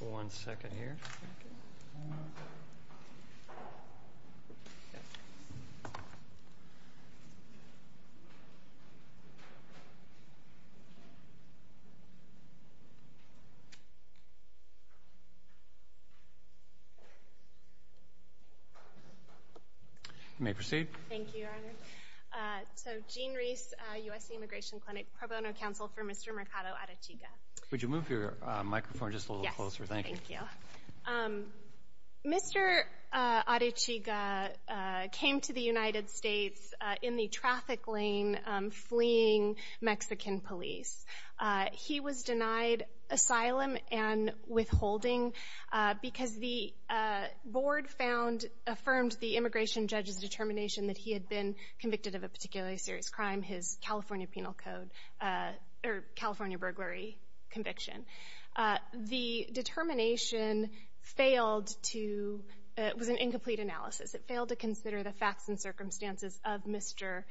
One second here. You may proceed. Thank you, Your Honor. So, Gene Reese, USC Immigration Clinic, Pro Bono Counsel for Mr. Mercado Arechiga. Would you move your microphone just a little closer? Thank you. Mr. Arechiga came to the United States in the traffic lane fleeing Mexican police. He was denied asylum and withholding because the board found, affirmed the immigration judge's determination that he had been convicted of a particularly serious crime. His California Penal Code, or California burglary conviction. The determination failed to, it was an incomplete analysis. It failed to consider the facts and circumstances of Mr.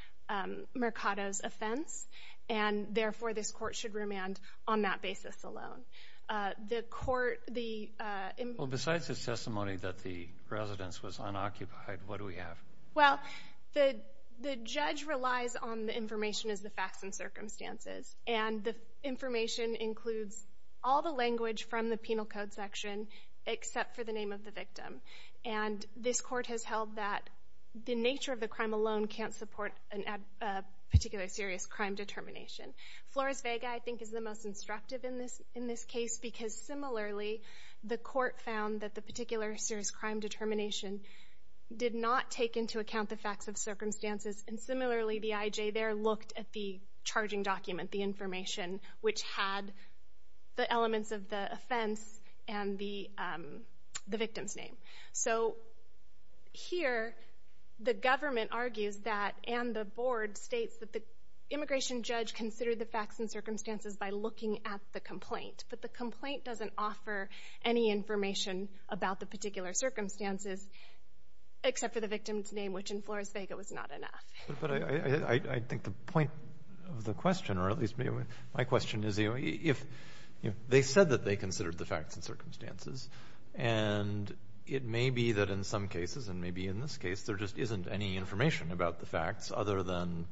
Mercado's offense. And therefore, this court should remand on that basis alone. The court, the... Well, besides the testimony that the residence was unoccupied, what do we have? Well, the judge relies on the information as the facts and circumstances. And the information includes all the language from the Penal Code section, except for the name of the victim. And this court has held that the nature of the crime alone can't support a particular serious crime determination. Flores Vega, I think, is the most instructive in this case because similarly, the court found that the particular serious crime determination did not take into account the facts of circumstances. And similarly, the IJ there looked at the charging document, the information, which had the elements of the offense and the victim's name. So here, the government argues that, and the board states that the immigration judge considered the facts and circumstances by looking at the complaint. But the complaint doesn't offer any information about the particular circumstances, except for the victim's name, which in Flores Vega was not enough. But I think the point of the question, or at least my question is, if they said that they considered the facts and circumstances, and it may be that in some cases, and maybe in this case, there just isn't any information about the facts other than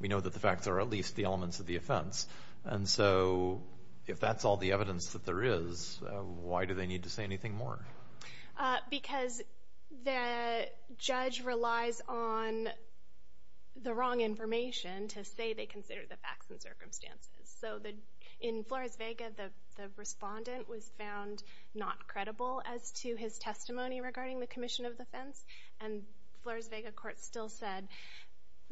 we know that the there is, why do they need to say anything more? Because the judge relies on the wrong information to say they considered the facts and circumstances. So in Flores Vega, the respondent was found not credible as to his testimony regarding the commission of the offense. And Flores Vega court still said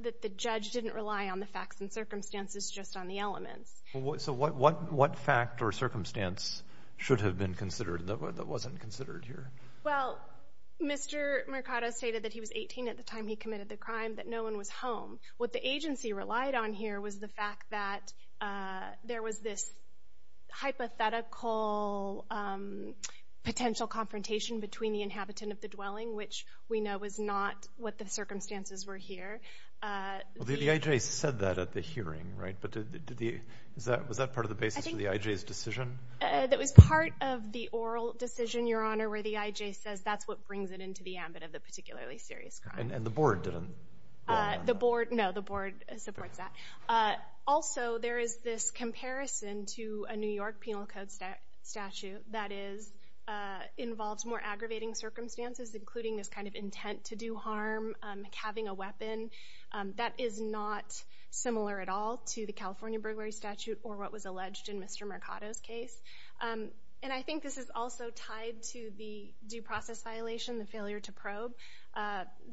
that the judge didn't rely on the facts and circumstances, just on the elements. So what fact or circumstance should have been considered that wasn't considered here? Well, Mr. Mercado stated that he was 18 at the time he committed the crime, that no one was home. What the agency relied on here was the fact that there was this hypothetical potential confrontation between the inhabitant of the dwelling, which we know was not what the circumstances were here. The IJ said that at the hearing, right? But was that part of the basis of the IJ's decision? That was part of the oral decision, Your Honor, where the IJ says that's what brings it into the ambit of the particularly serious crime. And the board didn't? The board, no, the board supports that. Also, there is this comparison to a New York Penal Code statute that involves more aggravating circumstances, including this kind of intent to do harm, having a weapon. That is not similar at all to the California burglary statute or what was alleged in Mr. Mercado's case. And I think this is also tied to the due process violation, the failure to probe.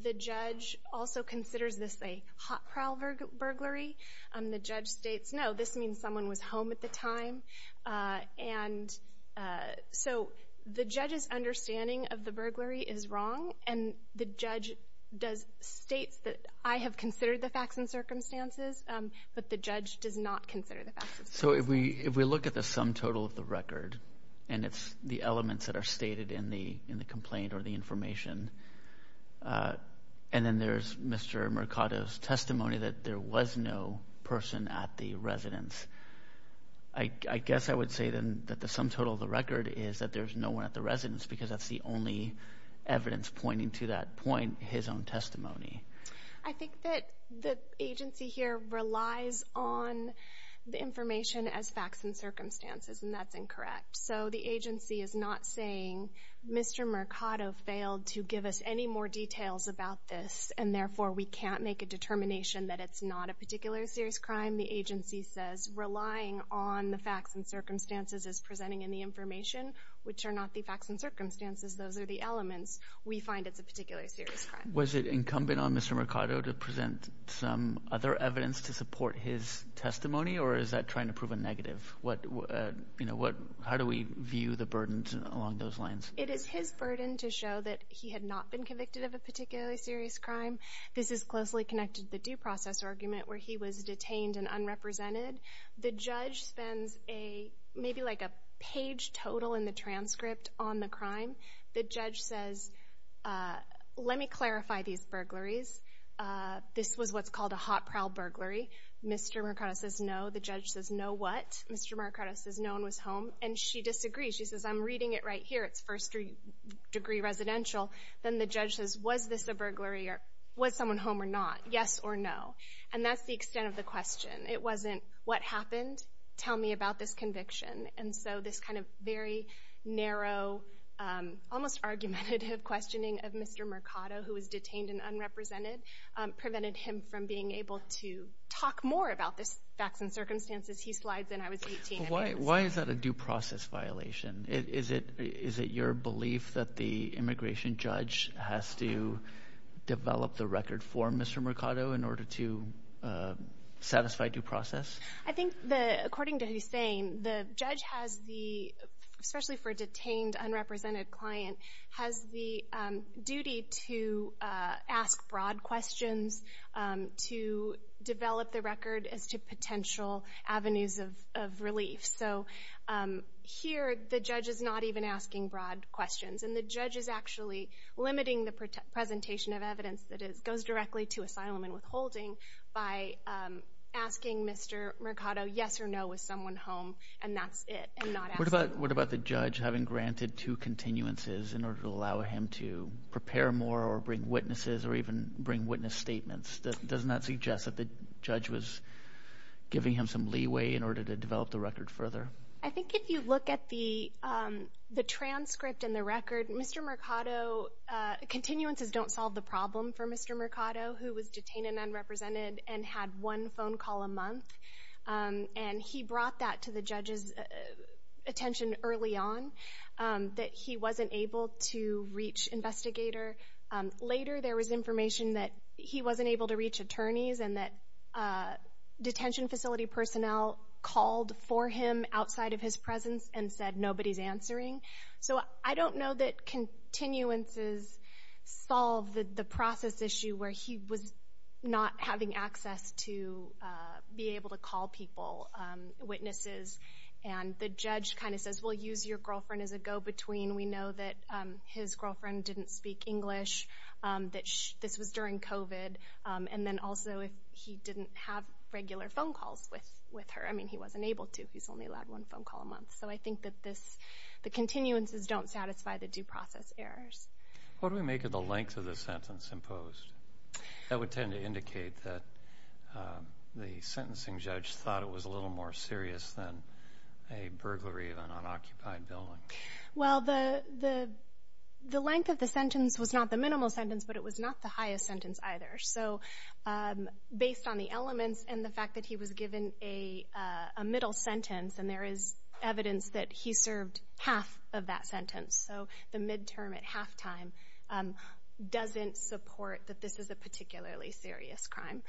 The judge also considers this a hot prowl burglary. The judge states, no, this means someone was home at the time. And so the judge's understanding of the burglary is wrong. And the judge states that I have considered the facts and circumstances, but the judge does not consider the facts and circumstances. So if we look at the sum total of the record, and it's the elements that are stated in the complaint or the information, and then there's Mr. Mercado's testimony that there was no person at the residence, I guess I would say then that the sum total of the record is that there's no one at the residence because that's the only evidence pointing to that point, his own testimony. I think that the agency here relies on the information as facts and circumstances, and that's incorrect. So the agency is not saying Mr. Mercado failed to give us any more details about this, and therefore we can't make a determination that it's not a particular serious crime. The agency says relying on the facts and circumstances is presenting in the information, which are not the facts and circumstances. Those are the elements we find it's a particular serious crime. Was it incumbent on Mr. Mercado to present some other evidence to support his testimony, or is that trying to prove a negative? How do we view the burdens along those lines? It is his burden to show that he had not been convicted of a particularly serious crime. This is closely connected to the due process argument where he was detained and unrepresented. The judge spends maybe like a page total in the transcript on the crime. The judge says, let me clarify these burglaries. This was what's called a hot prowl burglary. Mr. Mercado says no. The judge says no what? Mr. Mercado says no one was home, and she disagrees. She says I'm reading it right here. It's first degree residential. Then the judge says was this a burglary, or was someone home or not? Yes or no? And that's the extent of the question. It wasn't what happened? Tell me about this conviction. And so this kind of very narrow almost argumentative questioning of Mr. Mercado, who was detained and unrepresented, prevented him from being able to talk more about this facts and circumstances. He slides in. I was 18. Why is that a due process violation? Is it your belief that the immigration judge has to develop the record for Mr. Mercado in order to satisfy due process? I think according to Hussain, the judge has the, especially for a detained, unrepresented client, has the duty to ask broad questions, to develop the record as to potential avenues of relief. So here the judge is not even asking broad questions, and the judge is actually limiting the presentation of evidence that goes directly to asylum and withholding by asking Mr. Mercado yes or no, was someone home, and that's it, and not asking. What about the judge having granted two continuances in order to allow him to prepare more or bring witnesses or even bring witness statements? Doesn't that suggest that the judge was giving him some leeway in order to develop the record further? I think if you look at the transcript and the record, Mr. Mercado, continuances don't solve the problem for Mr. Mercado, who was detained and unrepresented and had one phone call a month, and he brought that to the judge's attention early on, that he wasn't able to reach investigator. Later there was information that he wasn't able to reach attorneys and that detention facility personnel called for him outside of his presence and said, nobody's answering. So I don't know that continuances solve the process issue where he was not having access to be able to call people, witnesses, and the judge kind of says, well, use your girlfriend as a go-between. We know that his girlfriend didn't speak English, that this was during COVID, and then also he didn't have regular phone calls with her. I mean, he wasn't able to. He's only allowed one phone call a month. So I think that the continuances don't satisfy the due process errors. What do we make of the length of the sentence imposed? That would tend to indicate that the sentencing judge thought it was a little more serious than a burglary of an unoccupied building. Well, the length of the sentence was not the minimal sentence, but it was not the highest sentence either. So based on the elements and the fact that he was given a middle sentence and there is evidence that he served half of that sentence, so the midterm at halftime doesn't support that this is a particularly serious crime.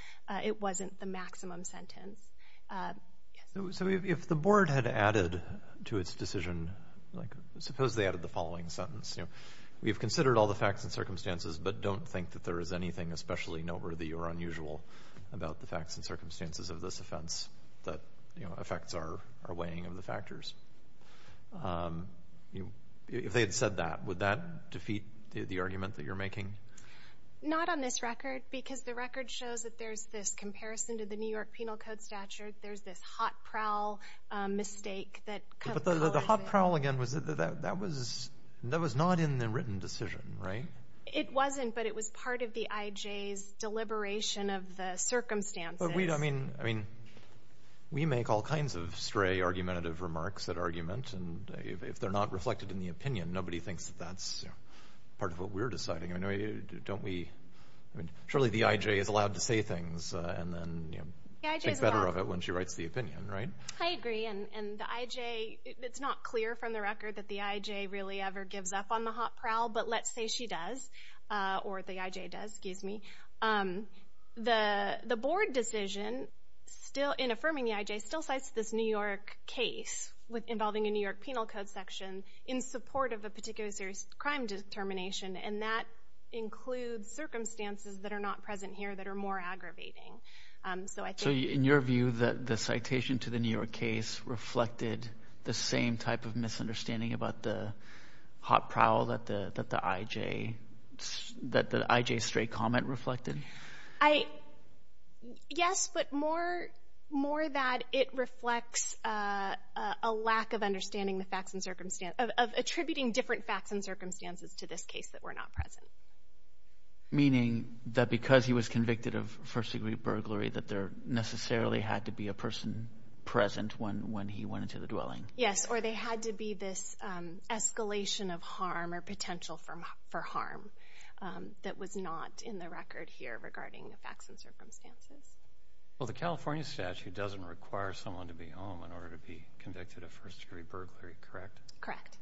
It wasn't the maximum sentence. So if the board had added to its decision, like suppose they added the following sentence, you know, we've considered all the facts and circumstances, but don't think that there is anything especially noteworthy or unusual about the facts and circumstances of this offense that, you know, affects our weighing of the factors. If they had said that, would that defeat the argument that you're making? Not on this record, because the record shows that there's this comparison to the New York Penal Code statute. There's this hot prowl mistake that comes with it. But the hot prowl, again, that was not in the written decision, right? It wasn't, but it was part of the IJ's deliberation of the circumstances. But we, I mean, we make all kinds of stray argumentative remarks at argument, and if they're not reflected in the opinion, nobody thinks that that's part of what we're deciding. Don't we? Surely the IJ is allowed to say things, and then, you know. The IJ is allowed. Think better of it when she writes the opinion, right? I agree, and the IJ, it's not clear from the record that the IJ really ever gives up on the hot prowl, but let's say she does, or the IJ does, excuse me. The board decision still, in affirming the IJ, still cites this New York case involving a New York Penal Code section in support of a particular serious crime determination, and that includes circumstances that are not present here that are more aggravating. So I think- So in your view, the citation to the New York case reflected the same type of misunderstanding about the hot prowl that the IJ, that the IJ's stray comment reflected? I, yes, but more, more that it reflects a lack of understanding the facts and circumstances, of attributing different facts and circumstances to this case that were not present. Meaning, that because he was convicted of first degree burglary, that there necessarily had to be a person present when he went into the dwelling? Yes, or there had to be this escalation of harm, or potential for harm, that was not in the record here regarding the facts and circumstances. Well, the California statute doesn't require someone to be home in order to be convicted of first degree burglary, correct? Correct.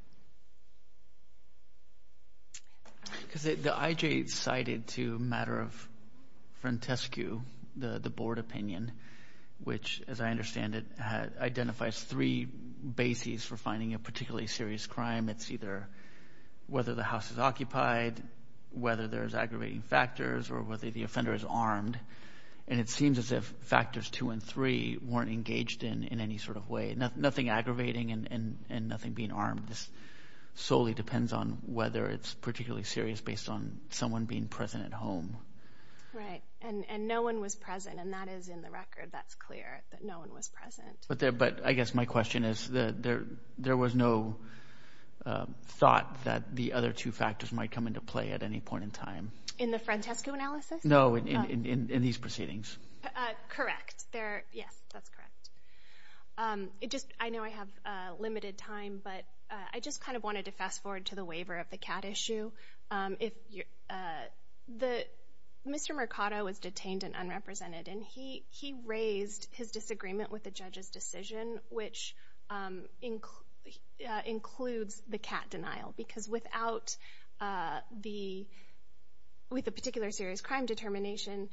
Because the IJ cited to a matter of frontescue, the board opinion, which, as I understand it, identifies three bases for finding a particularly serious crime. It's either whether the house is occupied, whether there's aggravating factors, or whether the offender is armed, and it seems as if factors two and three weren't engaged in any sort of way. Nothing aggravating and nothing being armed, this solely depends on whether it's particularly serious based on someone being present at home. Right. And no one was present, and that is in the record, that's clear, that no one was present. But I guess my question is, there was no thought that the other two factors might come into play at any point in time. In the frontescue analysis? No, in these proceedings. Correct. Yes, that's correct. It just, I know I have limited time, but I just kind of wanted to fast forward to the waiver of the CAT issue. Mr. Mercado was detained and unrepresented, and he raised his disagreement with the judge's decision, which includes the CAT denial. Because without the, with the particular serious crime determination,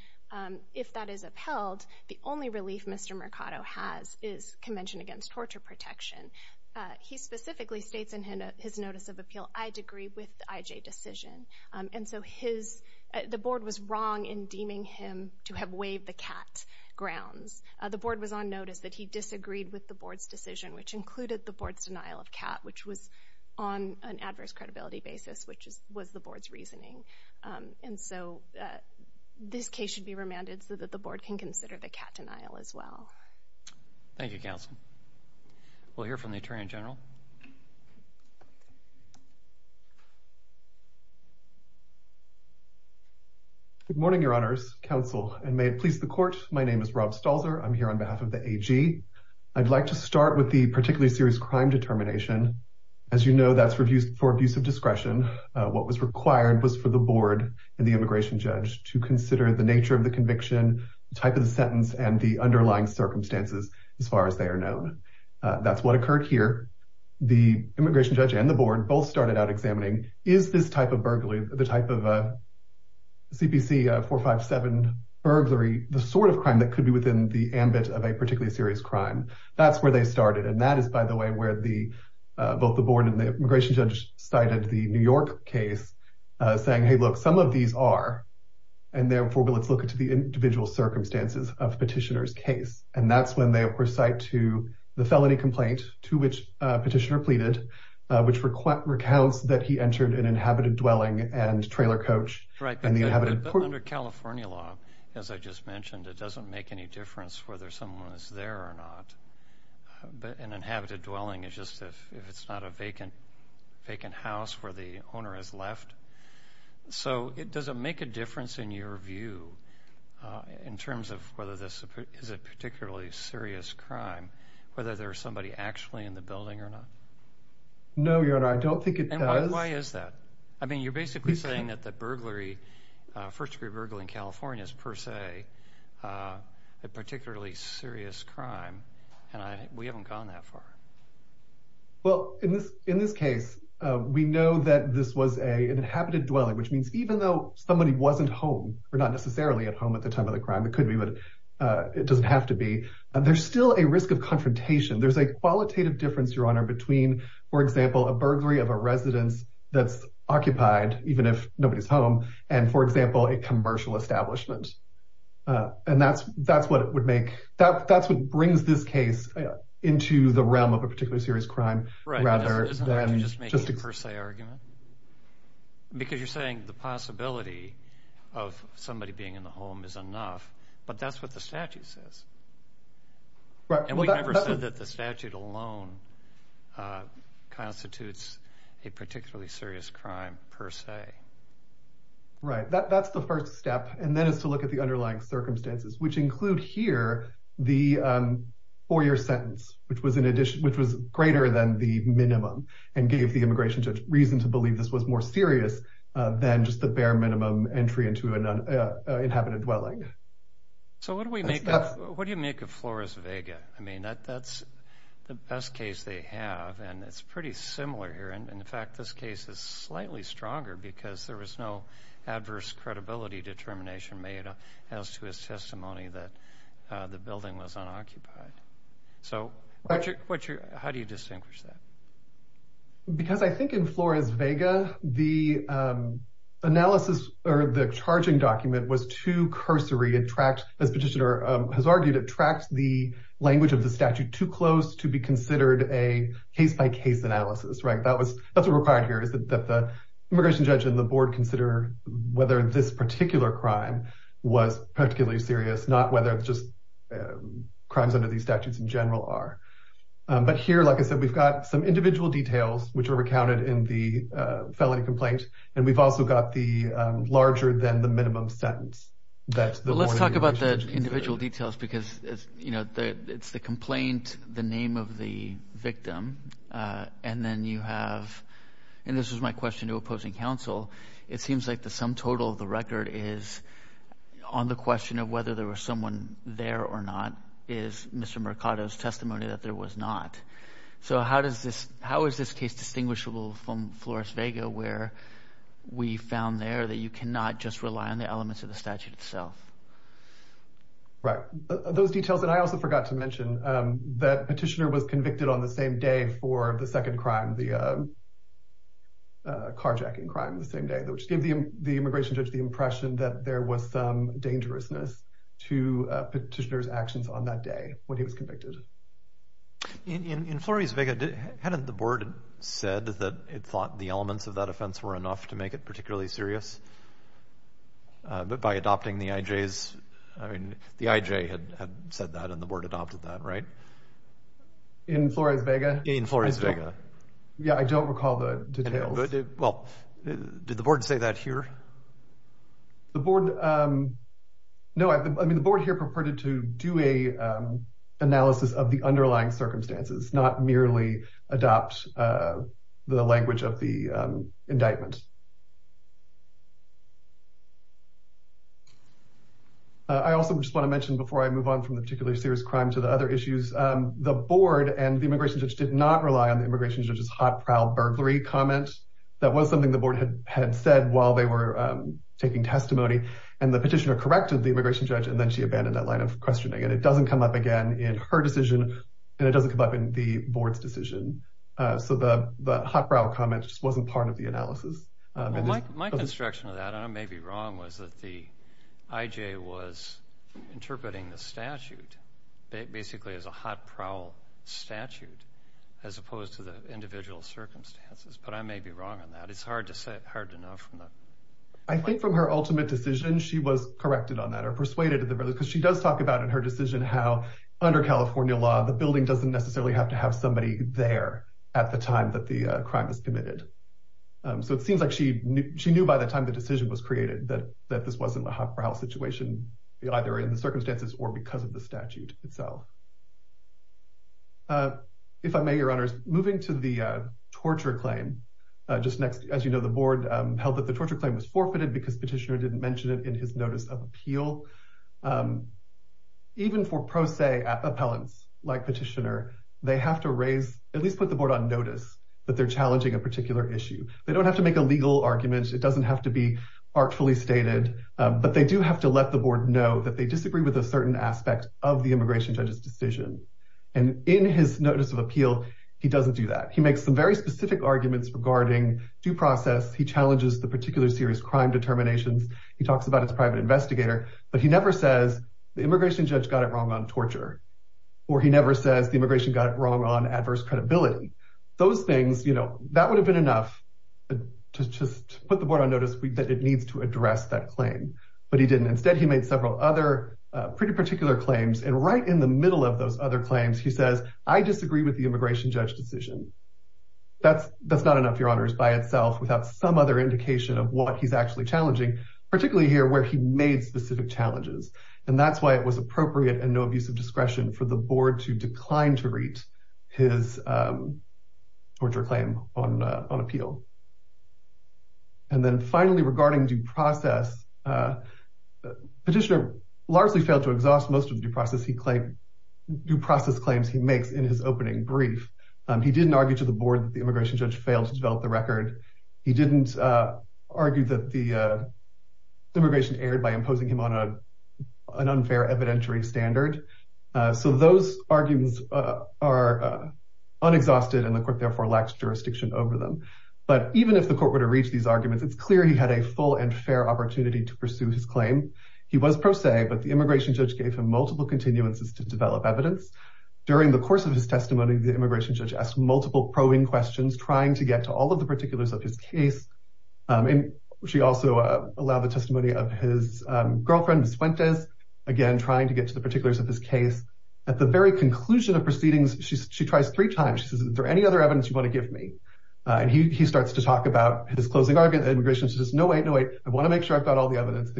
if that is upheld, the only relief Mr. Mercado has is Convention Against Torture Protection. He specifically states in his notice of appeal, I agree with the IJ decision. And so his, the board was wrong in deeming him to have waived the CAT grounds. The board was on notice that he disagreed with the board's decision, which included the board's denial of CAT, which was on an adverse credibility basis, which was the board's reasoning. And so this case should be remanded so that the board can consider the CAT denial as well. Thank you, counsel. We'll hear from the attorney general. Good morning, your honors, counsel, and may it please the court. My name is Rob Stalzer. I'm here on behalf of the AG. I'd like to start with the particularly serious crime determination. As you know, that's for abuse of discretion. What was required was for the board and the immigration judge to consider the nature of the conviction, the type of the sentence and the underlying circumstances, as far as they are known. That's what occurred here. The immigration judge and the board both started out examining, is this type of burglary, the type of CPC 457 burglary, the sort of crime that could be within the ambit of a particularly serious crime? That's where they started. And that is, by the way, where both the board and the immigration judge cited the New York case saying, hey, look, some of these are, and therefore, let's look at the individual circumstances of petitioner's case. And that's when they, of course, cite to the felony complaint to which a petitioner pleaded, which recounts that he entered an inhabited dwelling and trailer coach. Right. But under California law, as I just mentioned, it doesn't make any difference whether someone is there or not. An inhabited dwelling is just if it's not a vacant house where the owner has left. So does it make a difference, in your view, in terms of whether this is a particularly serious crime, whether there's somebody actually in the building or not? No, Your Honor, I don't think it does. And why is that? I mean, you're basically saying that the burglary, first degree burglary in California is per se a serious crime, and we haven't gone that far. Well, in this case, we know that this was an inhabited dwelling, which means even though somebody wasn't home, or not necessarily at home at the time of the crime, it could be, but it doesn't have to be, there's still a risk of confrontation. There's a qualitative difference, Your Honor, between, for example, a burglary of a residence that's occupied, even if nobody's home, and, for example, a commercial establishment. And that's what it would make, that's what brings this case into the realm of a particularly serious crime, rather than just a per se argument. Because you're saying the possibility of somebody being in the home is enough, but that's what the statute says. And we never said that the statute alone constitutes a particularly serious crime, per se. Right, that's the first step. And then it's to look at the underlying circumstances, which include here the four-year sentence, which was greater than the minimum, and gave the immigration judge reason to believe this was more serious than just the bare minimum entry into an inhabited dwelling. So what do you make of Flores Vega? I mean, that's the best case they have, and it's pretty similar here. In fact, this case is slightly stronger because there was no adverse credibility determination made as to his testimony that the building was unoccupied. So how do you distinguish that? Because I think in Flores Vega, the analysis, or the charging document, was too cursory. As Petitioner has argued, it tracked the language of the statute too close to be considered a case-by-case analysis. That's what's required here, is that the immigration judge and the board consider whether this particular crime was particularly serious, not whether it's just crimes under these statutes in general are. But here, like I said, we've got some individual details, which are recounted in the felony complaint, and we've also got the larger-than-the-minimum sentence that the immigration judge considered. Well, let's talk about the individual details, because it's the complaint, the name of the And this is my question to opposing counsel. It seems like the sum total of the record is, on the question of whether there was someone there or not, is Mr. Mercado's testimony that there was not. So how is this case distinguishable from Flores Vega, where we found there that you cannot just rely on the elements of the statute itself? Right. Those details, and I also forgot to mention that Petitioner was convicted on the same day for the second crime, the carjacking crime, the same day, which gave the immigration judge the impression that there was some dangerousness to Petitioner's actions on that day when he was convicted. In Flores Vega, hadn't the board said that it thought the elements of that offense were enough to make it particularly serious? But by adopting the IJs, I mean, the IJ had said that, and the board adopted that, right? In Flores Vega? In Flores Vega. Yeah, I don't recall the details. Well, did the board say that here? The board, no, I mean, the board here preferred to do an analysis of the underlying circumstances, not merely adopt the language of the indictment. I also just want to mention before I move on from the particularly serious crime to the other issues, the board and the immigration judge did not rely on the immigration judge's hot-prowled burglary comment. That was something the board had said while they were taking testimony, and the Petitioner corrected the immigration judge, and then she abandoned that line of questioning, and it doesn't come up again in her decision, and it doesn't come up in the board's decision. So the hot-prowled comment just wasn't part of the analysis. My construction of that, and I may be wrong, was that the IJ was interpreting the statute. It basically is a hot-prowled statute, as opposed to the individual circumstances, but I may be wrong on that. It's hard to say, hard to know from the... I think from her ultimate decision, she was corrected on that, or persuaded, because she does talk about in her decision how, under California law, the building doesn't necessarily have to have somebody there at the time that the crime is committed. So it seems like she knew by the time the decision was created that this wasn't a hot-prowled situation, either in the circumstances or because of the statute itself. If I may, Your Honors, moving to the torture claim, just next... As you know, the board held that the torture claim was forfeited because Petitioner didn't mention it in his Notice of Appeal. Even for pro se appellants like Petitioner, they have to raise, at least put the board on notice that they're challenging a particular issue. They don't have to make a legal argument. It doesn't have to be artfully stated, but they do have to let the board know that they disagree with a certain aspect of the immigration judge's decision. And in his Notice of Appeal, he doesn't do that. He makes some very specific arguments regarding due process. He challenges the particular serious crime determinations. He talks about his private investigator, but he never says the immigration judge got it wrong on torture, or he never says the immigration got it wrong on adverse credibility. Those things, that would have been enough to just put the board on notice that it needs to address that claim, but he didn't. Instead, he made several other pretty particular claims. And right in the middle of those other claims, he says, I disagree with the immigration judge decision. That's not enough, Your Honors, by itself without some other indication of what he's actually challenging, particularly here where he made specific challenges. And that's why it was appropriate and no abuse of discretion for the board to decline to torture claim on appeal. And then finally, regarding due process, Petitioner largely failed to exhaust most of the due process claims he makes in his opening brief. He didn't argue to the board that the immigration judge failed to develop the record. He didn't argue that the immigration erred by imposing him on an unfair evidentiary standard. So those arguments are unexhausted, and the court therefore lacks jurisdiction over them. But even if the court were to reach these arguments, it's clear he had a full and fair opportunity to pursue his claim. He was pro se, but the immigration judge gave him multiple continuances to develop evidence. During the course of his testimony, the immigration judge asked multiple probing questions, trying to get to all of the particulars of his case. And she also allowed the testimony of his girlfriend, Ms. Fuentes, again, trying to get to the particulars of his case. At the very conclusion of proceedings, she tries three times. She says, is there any other evidence you want to give me? And he starts to talk about his closing argument. Immigration says, no, wait, no, wait. I want to make sure I've got all the evidence.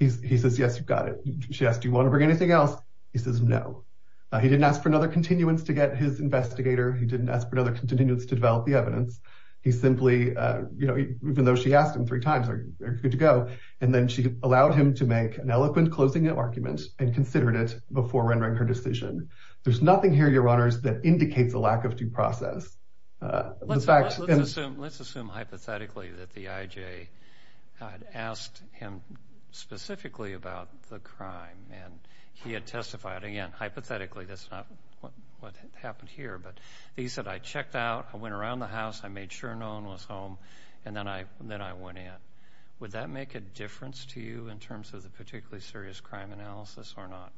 He says, yes, you've got it. She asked, do you want to bring anything else? He says, no. He didn't ask for another continuance to get his investigator. He didn't ask for another continuance to develop the evidence. He simply, you know, even though she asked him three times, are you good to go? And then she allowed him to make an eloquent closing argument and considered it before rendering her decision. There's nothing here, Your Honors, that indicates a lack of due process. Let's assume hypothetically that the IJ had asked him specifically about the crime. And he had testified. Again, hypothetically, that's not what happened here. But he said, I checked out. I went around the house. I made sure no one was home. And then I went in. Would that make a difference to you in terms of the particularly serious crime analysis or not?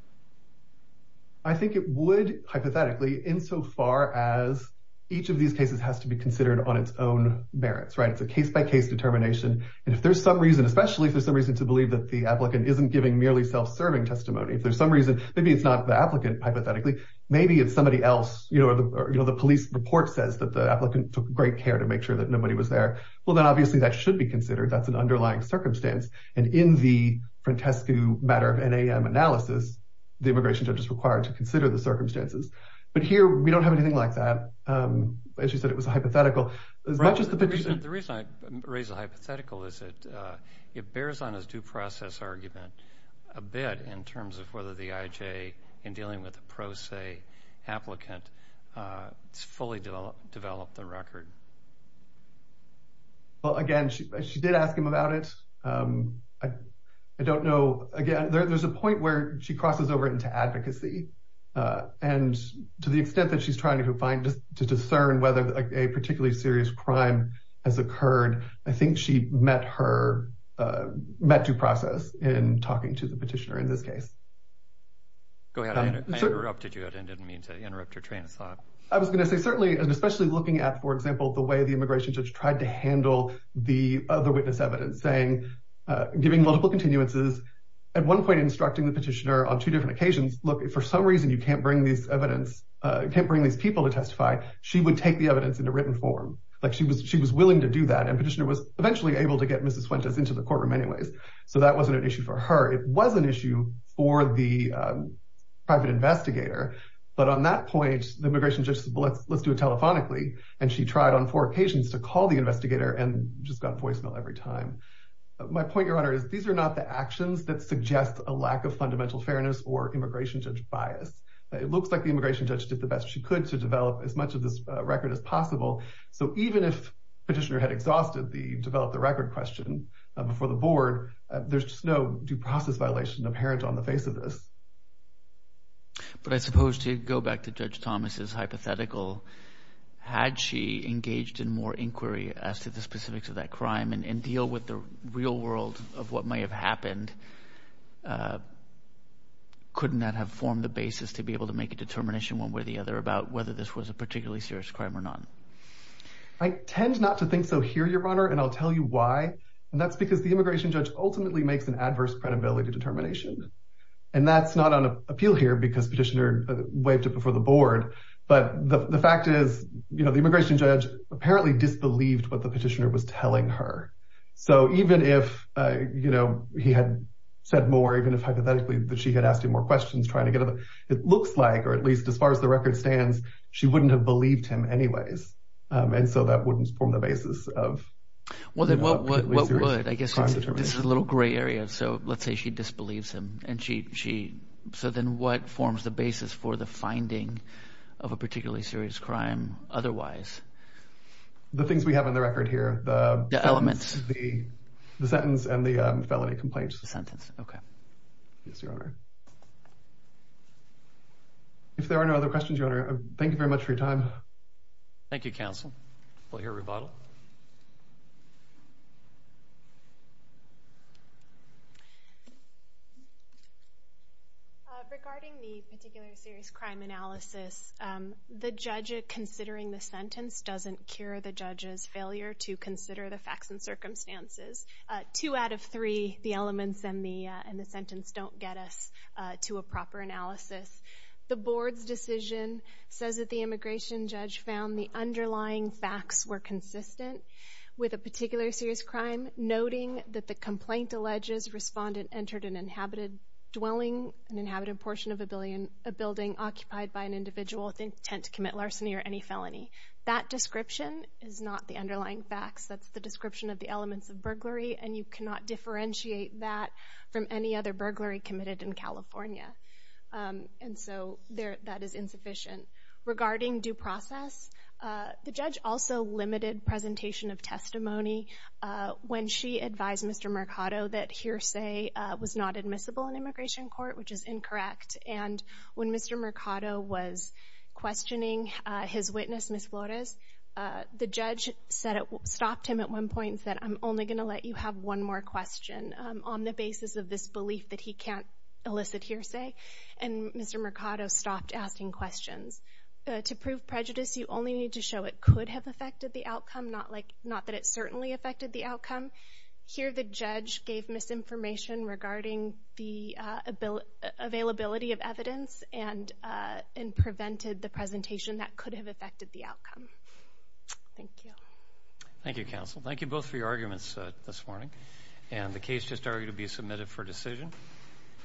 I think it would, hypothetically, insofar as each of these cases has to be considered on its own merits, right? It's a case-by-case determination. And if there's some reason, especially if there's some reason to believe that the applicant isn't giving merely self-serving testimony, if there's some reason. Maybe it's not the applicant, hypothetically. Maybe it's somebody else. You know, the police report says that the applicant took great care to make sure that nobody was there. Well, then obviously that should be considered. That's an underlying circumstance. And in the Frantescu matter of NAM analysis, the immigration judge is required to consider the circumstances. But here we don't have anything like that. As you said, it was a hypothetical. The reason I raise the hypothetical is that it bears on his due process argument a bit in terms of whether the IJ, in dealing with a pro se applicant, fully developed the record. Well, again, she did ask him about it. I don't know. Again, there's a point where she crosses over into advocacy. And to the extent that she's trying to find, to discern whether a particularly serious crime has occurred, I think she met her, met due process in talking to the petitioner in this case. Go ahead. I interrupted you. I didn't mean to interrupt your train of thought. I was going to say, certainly, and especially looking at, for example, the way the immigration judge tried to handle the other witness evidence, saying, giving multiple continuances. At one point, instructing the petitioner on two different occasions, look, if for some reason you can't bring these evidence, can't bring these people to testify, she would take the evidence in a written form. She was willing to do that. And petitioner was eventually able to get Mrs. Fuentes into the courtroom anyways. So that wasn't an issue for her. It was an issue for the private investigator. But on that point, the immigration judge said, let's do it telephonically. And she tried on four occasions to call the investigator and just got voicemail every time. My point, Your Honor, is these are not the actions that suggest a lack of fundamental fairness or immigration judge bias. It looks like the immigration judge did the best she could to develop as much of this record as possible. So even if petitioner had exhausted the develop the record question before the board, there's just no due process violation apparent on the face of this. But I suppose to go back to Judge Thomas's hypothetical, had she engaged in more inquiry as to the specifics of that crime and deal with the real world of what may have happened, couldn't that have formed the basis to be able to make a determination one way or the other about whether this was a particularly serious crime or not? I tend not to think so here, Your Honor. And I'll tell you why. And that's because the immigration judge ultimately makes an adverse credibility determination. And that's not on appeal here because petitioner waved it before the board. But the fact is, you know, the immigration judge apparently disbelieved what the petitioner was telling her. So even if, you know, he had said more, even if hypothetically that she had asked him more questions trying to get it looks like or at least as far as the record stands, she wouldn't have believed him anyways. And so that wouldn't form the basis of. Well, then what would? I guess this is a little gray area. So let's say she disbelieves him and she. So then what forms the basis for the finding of a particularly serious crime otherwise? The things we have on the record here, the elements, the sentence and the felony complaints sentence. OK. Yes, Your Honor. If there are no other questions, Your Honor, thank you very much for your time. Thank you, counsel. We'll hear rebuttal. Regarding the particular serious crime analysis, the judge considering the sentence doesn't cure the judge's failure to consider the facts and circumstances. Two out of three, the elements and the sentence don't get us to a proper analysis. The board's decision says that the immigration judge found the underlying facts were consistent with a particular serious crime, noting that the complaint alleges respondent entered an inhabited dwelling, an inhabited portion of a building occupied by an individual with intent to commit larceny or any felony. That description is not the underlying facts. That's the description of the elements of burglary, and you cannot differentiate that from any other burglary committed in California. And so that is insufficient. Regarding due process, the judge also limited presentation of testimony when she advised Mr. Mercado that hearsay was not admissible in immigration court, which is incorrect. And when Mr. Mercado was questioning his witness, Ms. Flores, the judge stopped him at one point and said, on the basis of this belief that he can't elicit hearsay, and Mr. Mercado stopped asking questions. To prove prejudice, you only need to show it could have affected the outcome, not that it certainly affected the outcome. Here, the judge gave misinformation regarding the availability of evidence and prevented the presentation that could have affected the outcome. Thank you. Thank you, counsel. Thank you both for your arguments this morning. And the case just argued to be submitted for decision.